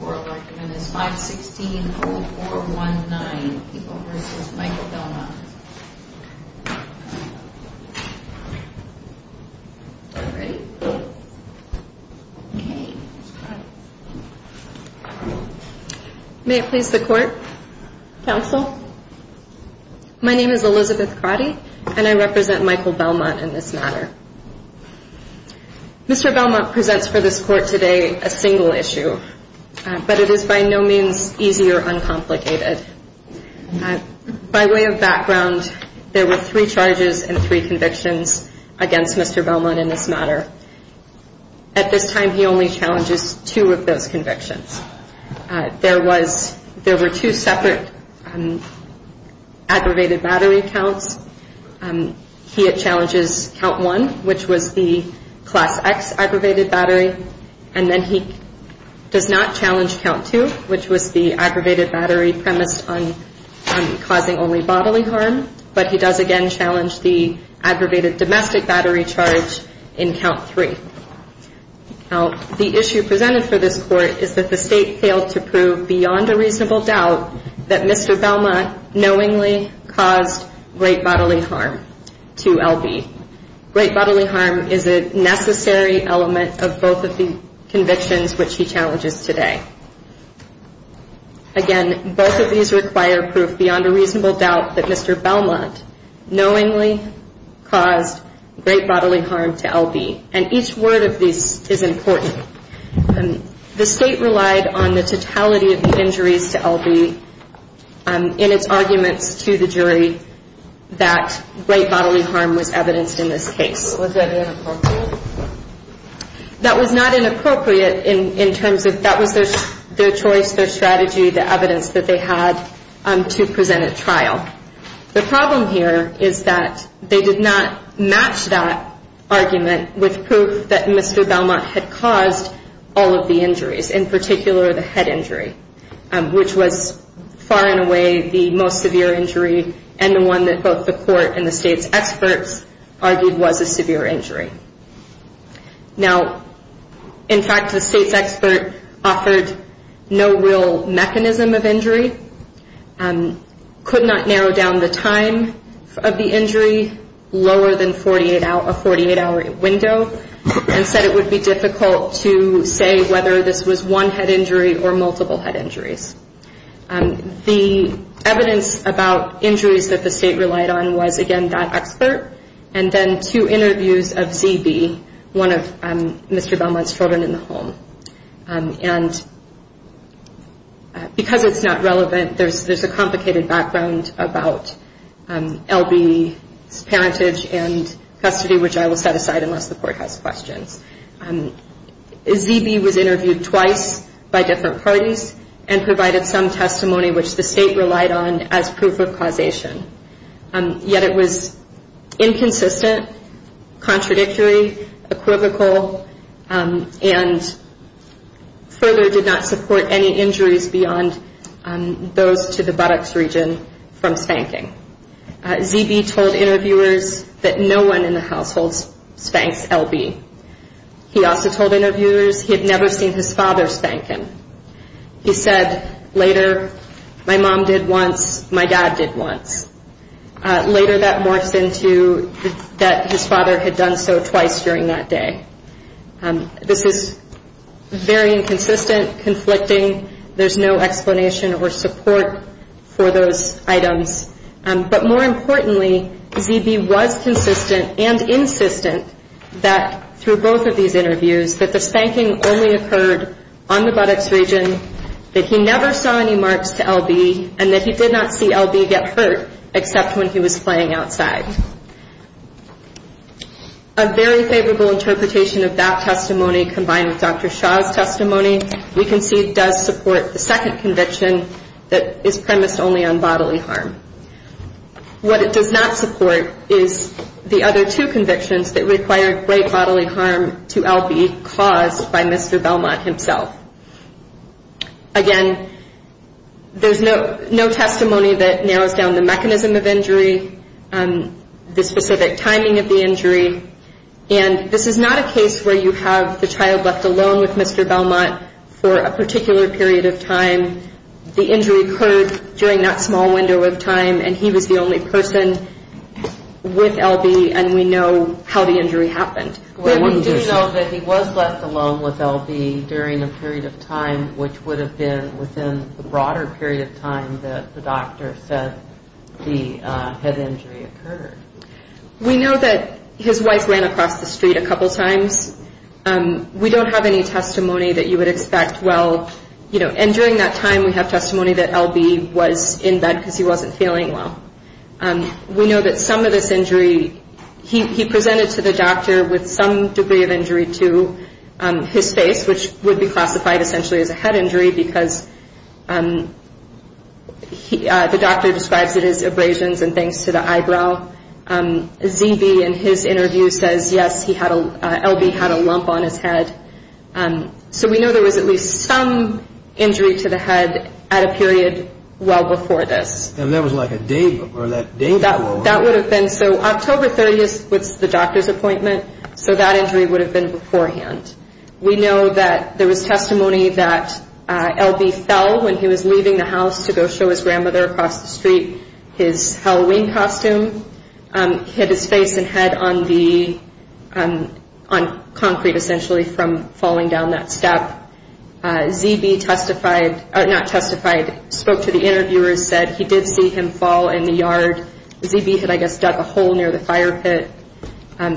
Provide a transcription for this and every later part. May it please the Court, Counsel. My name is Elizabeth Crotty and I represent Michael Belmont. It is by no means easy or uncomplicated. By way of background, there were three charges and three convictions against Mr. Belmont in this matter. At this time, he only challenges two of those convictions. There were two separate aggravated battery counts. He challenges count one, which was the class X aggravated battery, and then he does not challenge count two, which was the aggravated battery premised on causing only bodily harm, but he does again challenge the aggravated domestic battery charge in count three. Now, the issue presented for this Court is that the State failed to prove beyond a reasonable doubt that Mr. Belmont knowingly caused great bodily harm to L.B. Great bodily harm is a necessary element of both of the convictions which he challenges today. Again, both of these require proof beyond a reasonable doubt that Mr. Belmont knowingly caused great bodily harm to L.B. And each word of these is important. The State relied on the totality of the injuries to the jury that great bodily harm was evidenced in this case. Was that inappropriate? That was not inappropriate in terms of that was their choice, their strategy, the evidence that they had to present at trial. The problem here is that they did not match that argument with proof that Mr. Belmont had caused all of the injuries, in particular the head injury, which was far and away the most severe injury and the one that both the Court and the State's experts argued was a severe injury. Now, in fact, the State's expert offered no real mechanism of injury, could not narrow down the time of the injury lower than a 48-hour window, and said it would be difficult to say whether this was one head injury or multiple head injuries. The evidence about injuries that the State relied on was, again, that expert and then two interviews of Z.B., one of Mr. Belmont's children in the home. And because it's not relevant, there's a complicated background about L.B.'s parentage and custody, which I will set aside unless the Court has questions. Z.B. was interviewed twice by different parties and provided some testimony which the State relied on as proof of causation. Yet it was inconsistent, contradictory, equivocal, and further did not support any injuries beyond those to the buttocks region from spanking. Z.B. told interviewers that no one in the household spanks L.B. He also told interviewers he had never seen his father spank him. He said later, my mom did once, my dad did once. Later that morphs into that his father had done so twice during that day. This is very inconsistent, conflicting. There's no explanation or support for those items. But more importantly, Z.B. was consistent and insistent that through both of these interviews that the spanking only occurred on the buttocks region, that he never saw any marks to L.B., and that he did not see L.B. get hurt except when he was playing outside. A very favorable interpretation of that testimony combined with Dr. Shaw's testimony, we can see it does support the second conviction that is premised only on bodily harm. What it does not support is the other two convictions that require great bodily harm to L.B. caused by Mr. Belmont himself. Again, there's no testimony that narrows down the mechanism of injury, the specific timing of the injury. And this is not a case where you have the child left alone with Mr. Belmont for a particular period of time. The injury occurred during that small window of time and he was the only person with L.B. and we know how the injury occurred during a period of time which would have been within the broader period of time that the doctor said the head injury occurred. We know that his wife ran across the street a couple times. We don't have any testimony that you would expect, well, and during that time we have testimony that L.B. was in bed because he wasn't feeling well. We know that some of this injury, he presented to the doctor with some degree of injury to his face which would be classified essentially as a head injury because the doctor describes it as abrasions and things to the eyebrow. Z.B. in his interview says, yes, L.B. had a lump on his head. So we know there was at least some injury to the head at a period well before this. And that was like a day before. That would have been, so October 30th was the doctor's appointment so that injury would have been beforehand. We know that there was testimony that L.B. fell when he was leaving the house to go show his grandmother across the street. His Halloween costume hit his face and head on the, on concrete essentially from falling down that step. Z.B. testified, not testified, spoke to the interviewers, said he did see him fall in the yard. Z.B. had I guess dug a hole near the fire pit,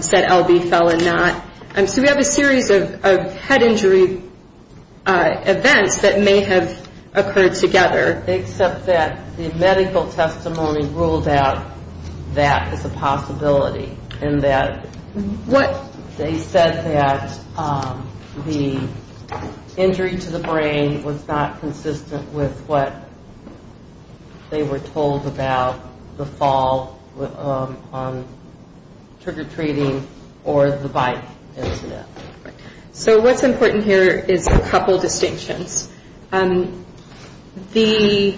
said L.B. fell and not. So we have a series of head injury events that may have occurred together. Except that the medical testimony ruled out that as a possibility and that they said that the injury to the brain was not consistent with what they were told about the fall on trigger treating or the bike incident. So what's important here is a couple distinctions. The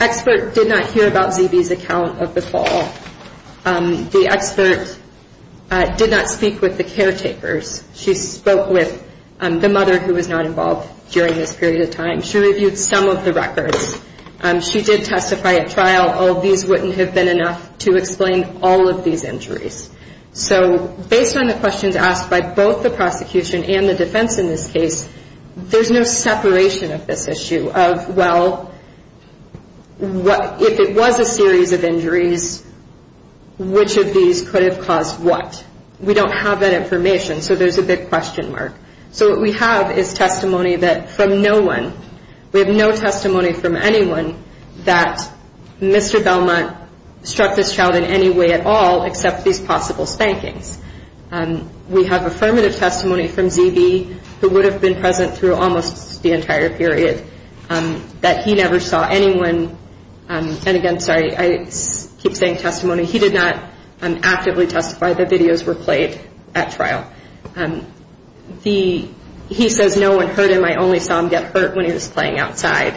expert did not hear about Z.B.'s account of the fall. The expert did not speak with the caretakers. She spoke with the mother who was not involved during this period of time. She reviewed some of the records. She did testify at trial. Oh, these wouldn't have been enough to explain all of these injuries. So based on the questions asked by both the prosecution and the defense in this case, there's no separation of this issue of, well, if it was a series of injuries, which of these could have caused what? We don't have that information. So there's a big question mark. So what we have is testimony from no one. We have no testimony from anyone that Mr. Belmont struck this child in any way at all except these possible spankings. We have affirmative testimony from Z.B. who would have been present through almost the entire period that he never saw anyone. And again, sorry, I keep saying testimony. He did not actively testify. The videos were played at trial. He says no one hurt him. I only saw him get hurt when he was playing outside.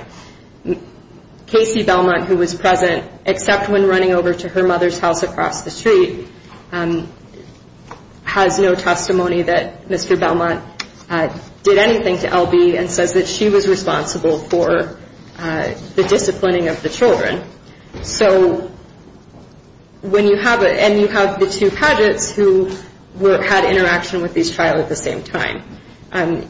Casey Belmont, who was present except when running over to her mother's house across the street, has no testimony that Mr. Belmont did anything to L.B. and says that she was responsible for the disciplining of the children. And you have the two pageants who had interaction with this child at the same time.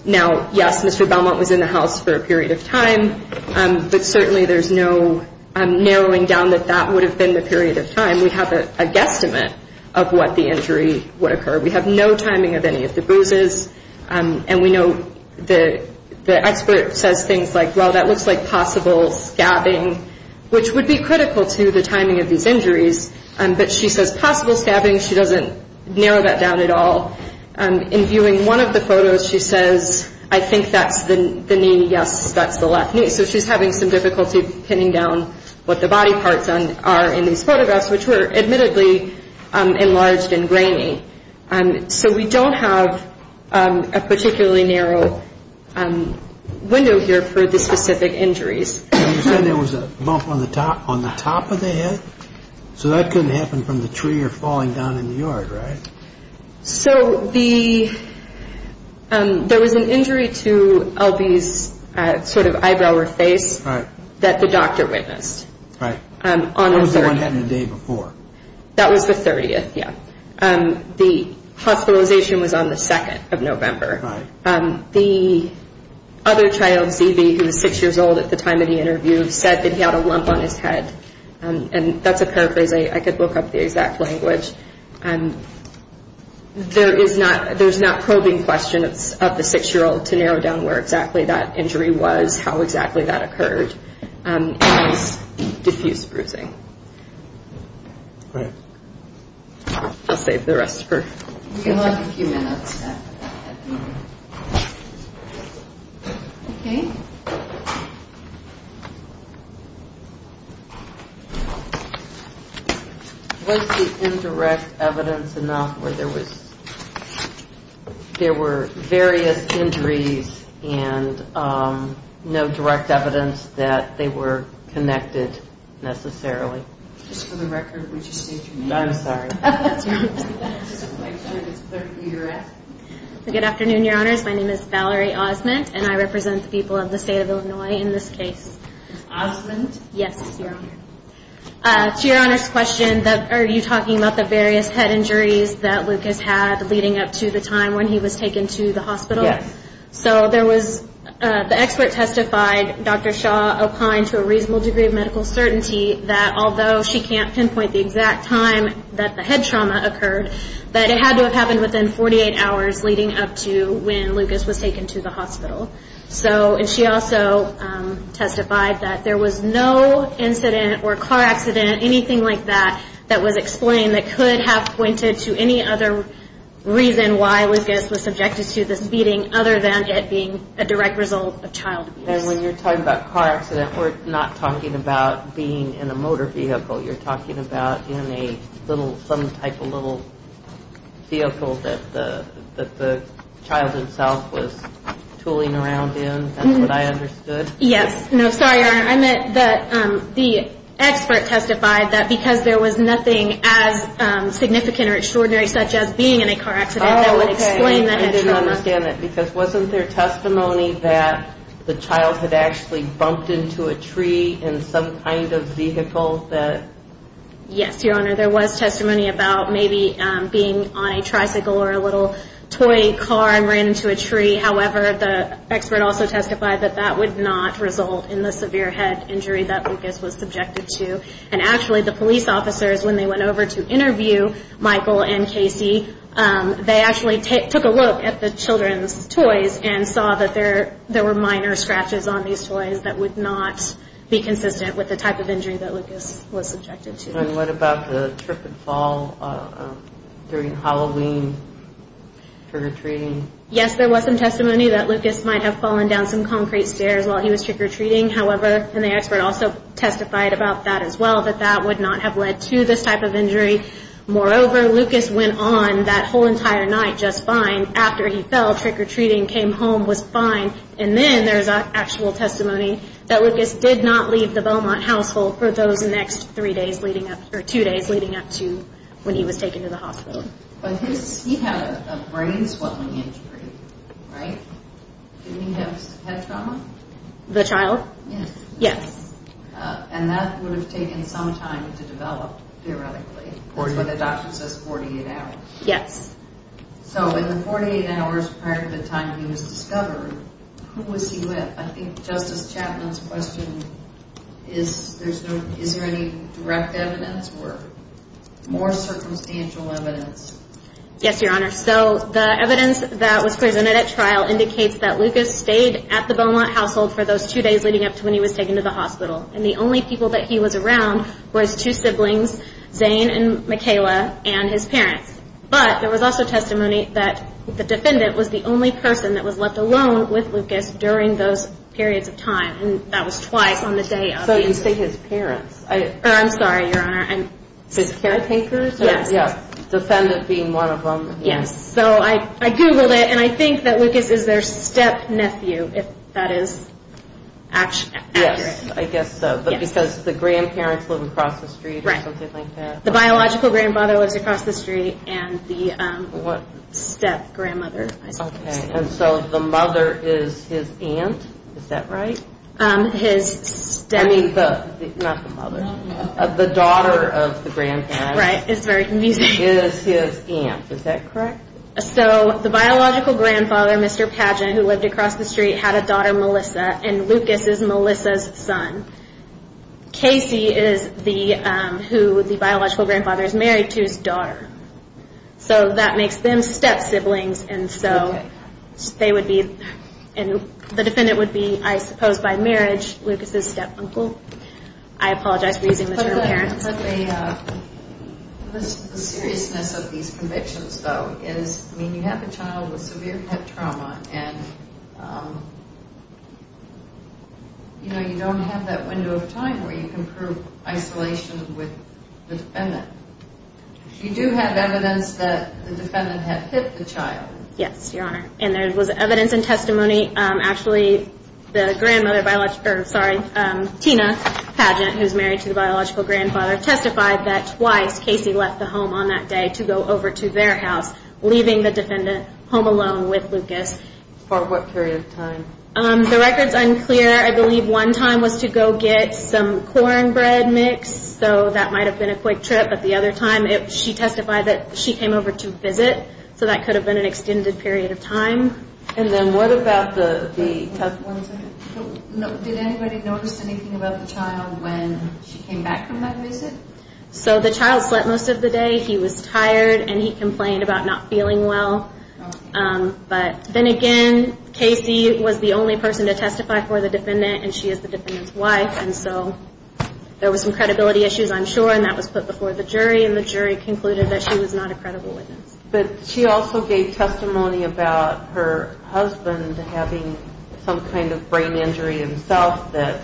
Now, yes, Mr. Belmont was in the house for a period of time, but certainly there's no narrowing down that that would have been the period of time. We have a guesstimate of what the injury would occur. We have no timing of any of the bruises. And we know the expert says things like, well, that looks like possible scabbing, which would be critical to the timing of these injuries. But she says possible scabbing. She doesn't narrow that down at all. In viewing one of the photos, she says, I think that's the knee. Yes, that's the left knee. So she's having some difficulty pinning down what the body parts are in these photographs, which were admittedly enlarged and grainy. So we don't have a particularly narrow window here for the specific injuries. You said there was a bump on the top of the head. So that couldn't happen from the tree or falling down in the yard, right? So there was an injury to L.B.'s sort of eyebrow or face that the doctor witnessed. What was the one that happened the day before? That was the 30th, yeah. The hospitalization was on the 2nd of November. The other child, Z.B., who was 6 years old at the time of the interview, said that he had a lump on his head. And that's a paraphrase. I could look up the exact language. There's not probing questions of the 6-year-old to narrow down where exactly that injury was, how exactly that occurred. And it was diffuse bruising. I'll save the rest for future questions. Was the indirect evidence enough where there were various injuries and no direct evidence that they were connected necessarily? Just for the record, would you state your name? I'm sorry. Good afternoon, Your Honors. My name is Valerie Osment, and I represent the people of the state of Illinois in this case. Osment? Yes, Your Honor. To Your Honor's question, are you talking about the various head injuries that Lucas had leading up to the time when he was taken to the hospital? Yes. So the expert testified, Dr. Shaw opined to a reasonable degree of medical certainty that although she can't pinpoint the exact time that the head trauma occurred, that it had to have happened within 48 hours leading up to when Lucas was taken to the hospital. And she also testified that there was no incident or car accident, anything like that, that was explained that could have pointed to any other reason why Lucas was subjected to this beating other than it being a direct result of child abuse. And when you're talking about car accident, we're not talking about being in a motor vehicle. You're talking about in a little, some type of little vehicle that the child himself was tooling around in? That's what I understood? Yes. No, sorry, Your Honor. I meant that the expert testified that because there was nothing as significant or extraordinary such as being in a car accident, that was explained. I didn't understand that because wasn't there testimony that the child had actually bumped into a tree in some kind of vehicle that... Yes, Your Honor. There was testimony about maybe being on a tricycle or a little toy car and ran into a tree. However, the expert also testified that that would not result in the severe head injury that Lucas was subjected to. And actually, the police officers, when they went over to interview Michael and Casey, they actually took a look at the children's toys and saw that there were minor scratches on these toys that would not be consistent with the type of injury that Lucas was subjected to. And what about the trip and fall during Halloween trick-or-treating? Yes, there was some testimony that Lucas might have fallen down some concrete stairs while he was trick-or-treating. However, and the expert also testified about that as well, that that would not have led to this type of injury. Moreover, Lucas went on that whole entire night just fine. After he fell, trick-or-treating, came home, was fine. And then there's actual testimony that Lucas did not leave the Beaumont household for those next three days leading up, or two days leading up to when he was taken to the hospital. But his, he had a brain swelling injury, right? Didn't he have head trauma? The child? Yes. And that would have taken some time to develop, theoretically. That's what the doctor says, 48 hours. Yes. So in the 48 hours prior to the time he was discovered, who was he with? I think Justice Chapman's question, is there any direct evidence or more circumstantial evidence? Yes, Your Honor. So the evidence that was presented at trial indicates that Lucas stayed at the Beaumont household for those two days leading up to when he was taken to the hospital. And the only people that he was around was two siblings, Zane and Mikayla, and his parents. But there was also testimony that the defendant was the only person that was left alone with Lucas during those periods of time. And that was twice on the day of the incident. So you say his parents. I'm sorry, Your Honor. His caretakers? Yes. The defendant being one of them. So I googled it, and I think that Lucas is their step-nephew, if that is accurate. Yes, I guess so. Because the grandparents live across the street or something like that. The biological grandfather lives across the street, and the step-grandmother. Okay, and so the mother is his aunt, is that right? I mean, not the mother. The daughter of the grandparent is his aunt, is that correct? So the biological grandfather, Mr. Padgett, who lived across the street, had a daughter, Melissa, and Lucas is Melissa's son. Casey is who the biological grandfather is married to, his daughter. So that makes them step-siblings. The defendant would be, I suppose by marriage, Lucas's step-uncle. I apologize for using the term parents. But the seriousness of these convictions, though, is you have a child with severe head trauma, and you don't have that window of time where you can prove isolation with the defendant. You do have evidence that the defendant had hit the child. Yes, Your Honor, and there was evidence and testimony. Actually, Tina Padgett, who is married to the biological grandfather, testified that twice Casey left the home on that day to go over to their house, leaving the defendant home alone with Lucas. For what period of time? The record is unclear. I believe one time was to go get some cornbread mix, so that might have been a quick trip. But the other time, she testified that she came over to visit, so that could have been an extended period of time. And then what about the tough ones? Did anybody notice anything about the child when she came back from that visit? So the child slept most of the day. He was tired, and he complained about not feeling well. But then again, Casey was the only person to testify for the defendant, and she is the defendant's wife. And so there was some credibility issues, I'm sure, and that was put before the jury, and the jury concluded that she was not a credible witness. But she also gave testimony about her husband having some kind of brain injury himself, that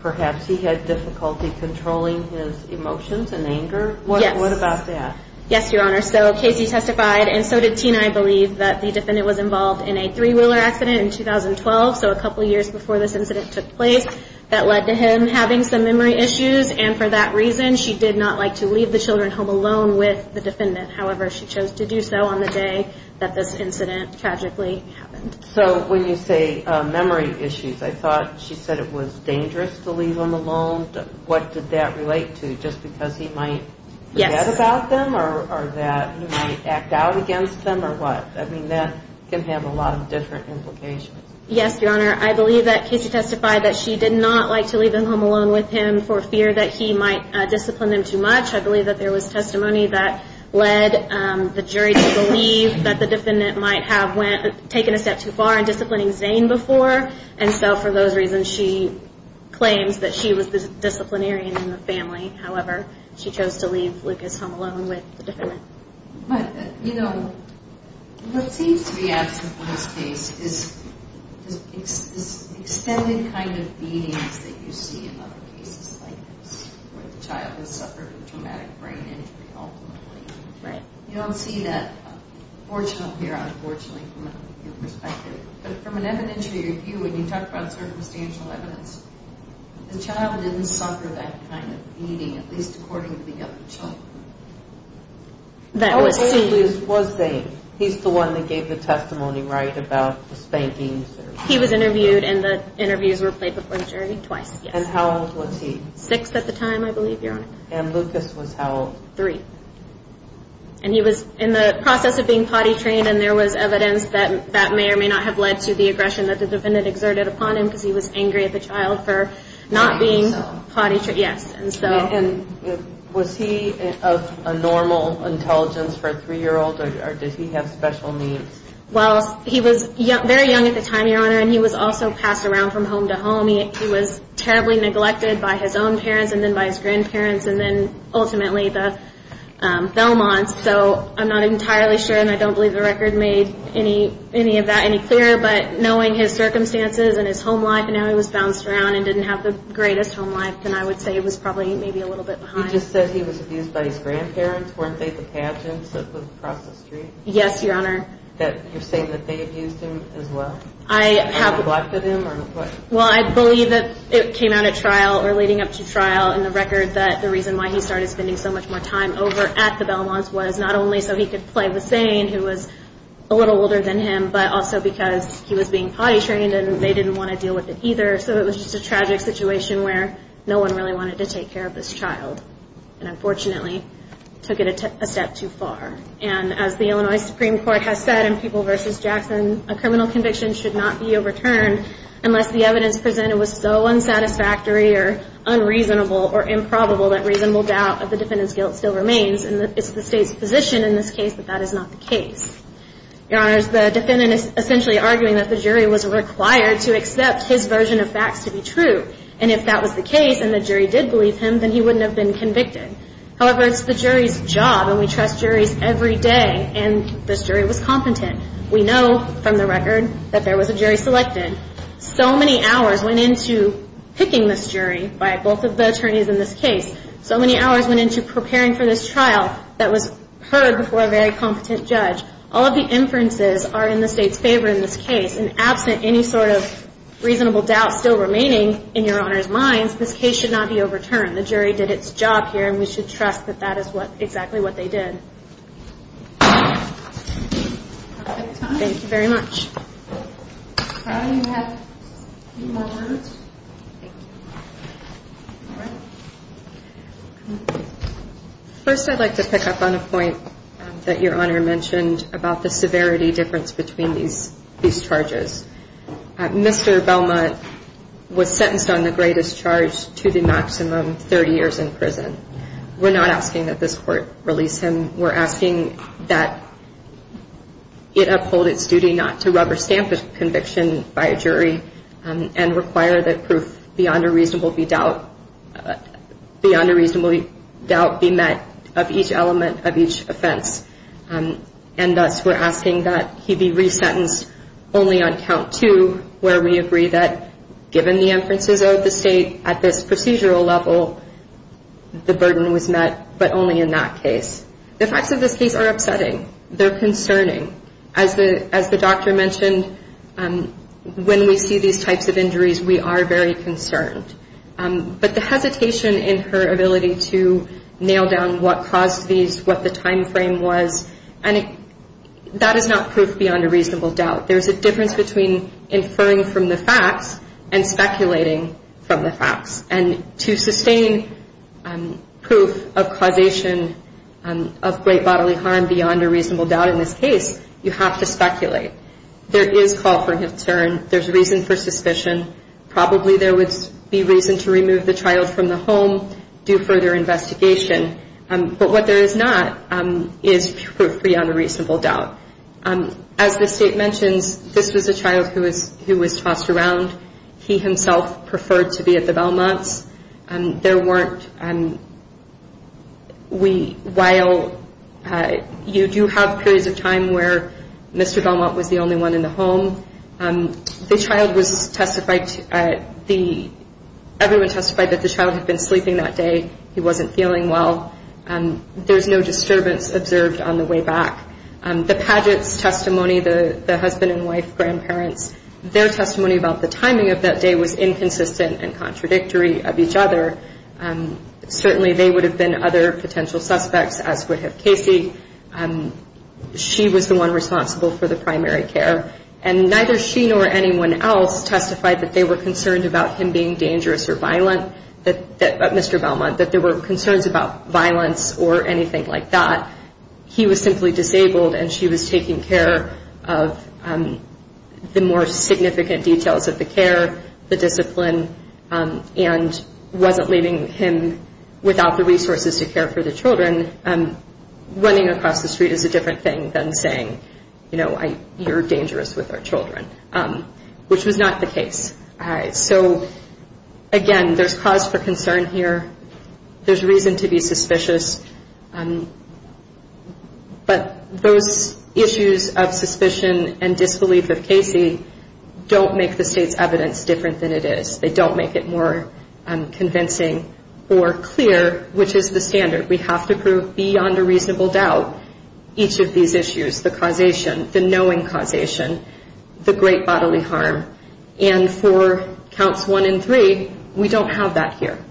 perhaps he had difficulty controlling his emotions and anger. What about that? Yes, Your Honor. So Casey testified, and so did Tina, I believe, that the defendant was involved in a three-wheeler accident in 2012, so a couple years before this incident took place, that led to him having some memory issues. And for that reason, she did not like to leave the children home alone with the defendant. However, she chose to do so on the day that this incident tragically happened. So when you say memory issues, I thought she said it was dangerous to leave him alone. What did that relate to? Just because he might forget about them, or that he might act out against them, or what? I mean, that can have a lot of different implications. Yes, Your Honor. I believe that Casey testified that she did not like to leave him home alone with him for fear that he might discipline him too much. I believe that there was testimony that led the jury to believe that the defendant might have taken a step too far in disciplining Zane before. And so for those reasons, she claims that she was the disciplinarian in the family. However, she chose to leave Lucas home alone with the defendant. But, you know, what seems to be absent in this case is extended kind of meanings that you see in other cases like this, where the child has suffered a traumatic brain injury, ultimately. You don't see that fortunately or unfortunately from a legal perspective. But from an evidentiary view, when you talk about circumstantial evidence, the child didn't suffer that kind of beating, at least according to the other children. How old was Zane? He's the one that gave the testimony, right, about the spanking? He was interviewed and the interviews were played before the jury twice. And how old was he? Six at the time, I believe, Your Honor. And Lucas was how old? Three. And he was in the process of being potty trained and there was evidence that may or may not have led to the aggression that the defendant exerted upon him because he was angry at the child for not being potty trained. And was he of a normal intelligence for a three-year-old or did he have special needs? Well, he was very young at the time, Your Honor, and he was also passed around from home to home. He was terribly neglected by his own parents and then by his grandparents and then ultimately the Belmonts. So I'm not entirely sure, and I don't believe the record made any of that any clearer, but knowing his circumstances and his home life and how he was bounced around and didn't have the greatest home life, then I would say he was probably maybe a little bit behind. You just said he was abused by his grandparents. Weren't they the pageants that were across the street? Yes, Your Honor. You're saying that they abused him as well? Well, I believe that it came out at trial or leading up to trial in the record that the reason why he started spending so much more time over at the Belmonts was not only so he could play with Zane, who was a little older than him, but also because he was being potty trained and they didn't want to deal with it either. So it was just a tragic situation where no one really wanted to take care of this child and unfortunately took it a step too far. And as the Illinois Supreme Court has said in People v. Jackson, a criminal conviction should not be overturned unless the evidence presented was so unsatisfactory or unreasonable or improbable that reasonable doubt of the defendant's guilt still remains and it's the State's position in this case that that is not the case. Your Honor, the defendant is essentially arguing that the jury was required to accept his version of facts to be true and if that was the case and the jury did believe him, then he wouldn't have been convicted. However, it's the jury's job and we trust juries every day and this jury was competent. We know from the record that there was a jury selected. So many hours went into picking this jury by both of the attorneys in this case. So many hours went into preparing for this trial that was heard before a very competent judge. All of the inferences are in the State's favor in this case and absent any sort of reasonable doubt still remaining in Your Honor's minds, this case should not be overturned. The jury did its job here and we should trust that that is exactly what they did. Thank you very much. First, I'd like to pick up on a point that Your Honor mentioned about the severity difference between these charges. Mr. Belmont was sentenced on the greatest charge to the maximum 30 years in prison. We're not asking that this court release him. We're asking that it uphold its duty not to rubber stamp a conviction by a jury and require that proof beyond a reasonable doubt be met of each element of each offense. And thus, we're asking that he be resentenced only on count two where we agree that given the inferences of the State at this procedural level, the burden was met, but only in that case. The facts of this case are upsetting. They're concerning. As the doctor mentioned, when we see these types of injuries, we are very concerned. But the hesitation in her ability to nail down what caused these, what the time frame was, that is not proof beyond a reasonable doubt. There's a difference between inferring from the facts and speculating from the facts. And to sustain proof of causation of great bodily harm beyond a reasonable doubt in this case, you have to speculate. There is call for concern. There's reason for suspicion. Probably there would be reason to remove the child from the home, do further investigation. But what there is not is proof beyond a reasonable doubt. As the State mentions, this was a child who was tossed around. He himself preferred to be at the Belmonts. There weren't, while you do have periods of time where Mr. Belmont was the only one in the home, the child was testified, everyone testified that the child had been sleeping that day. He wasn't feeling well. There's no disturbance observed on the way back. The Padgett's testimony, the husband and wife, grandparents, their testimony about the timing of that day was inconsistent and contradictory of each other. Certainly they would have been other potential suspects, as would have Casey. She was the one responsible for the primary care. And neither she nor anyone else testified that they were concerned about him being dangerous or violent, Mr. Belmont, that there were concerns about violence or anything like that. He was simply disabled and she was taking care of the more significant details of the care, the discipline, and wasn't leaving him without the resources to care for the children. Running across the street is a different thing than saying, you know, you're dangerous with our children, which was not the case. So, again, there's cause for concern here. There's reason to be suspicious. But those issues of suspicion and disbelief of Casey don't make the state's evidence different than it is. They don't make it more convincing or clear, which is the standard. We have to prove beyond a reasonable doubt each of these issues, the causation, the knowing causation, the great bodily harm. And for counts one and three, we don't have that here.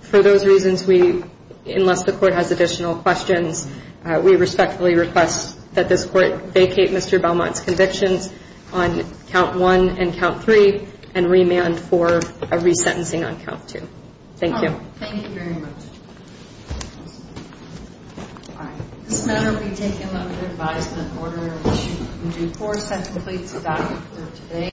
For those reasons, we, unless the court has additional questions, we respectfully request that this court vacate Mr. Belmont's convictions on count one and count three and remand for a resentencing on count two. Thank you. Thank you very much. All right. This matter will be taken under advisement in order to do course. That completes the document for today.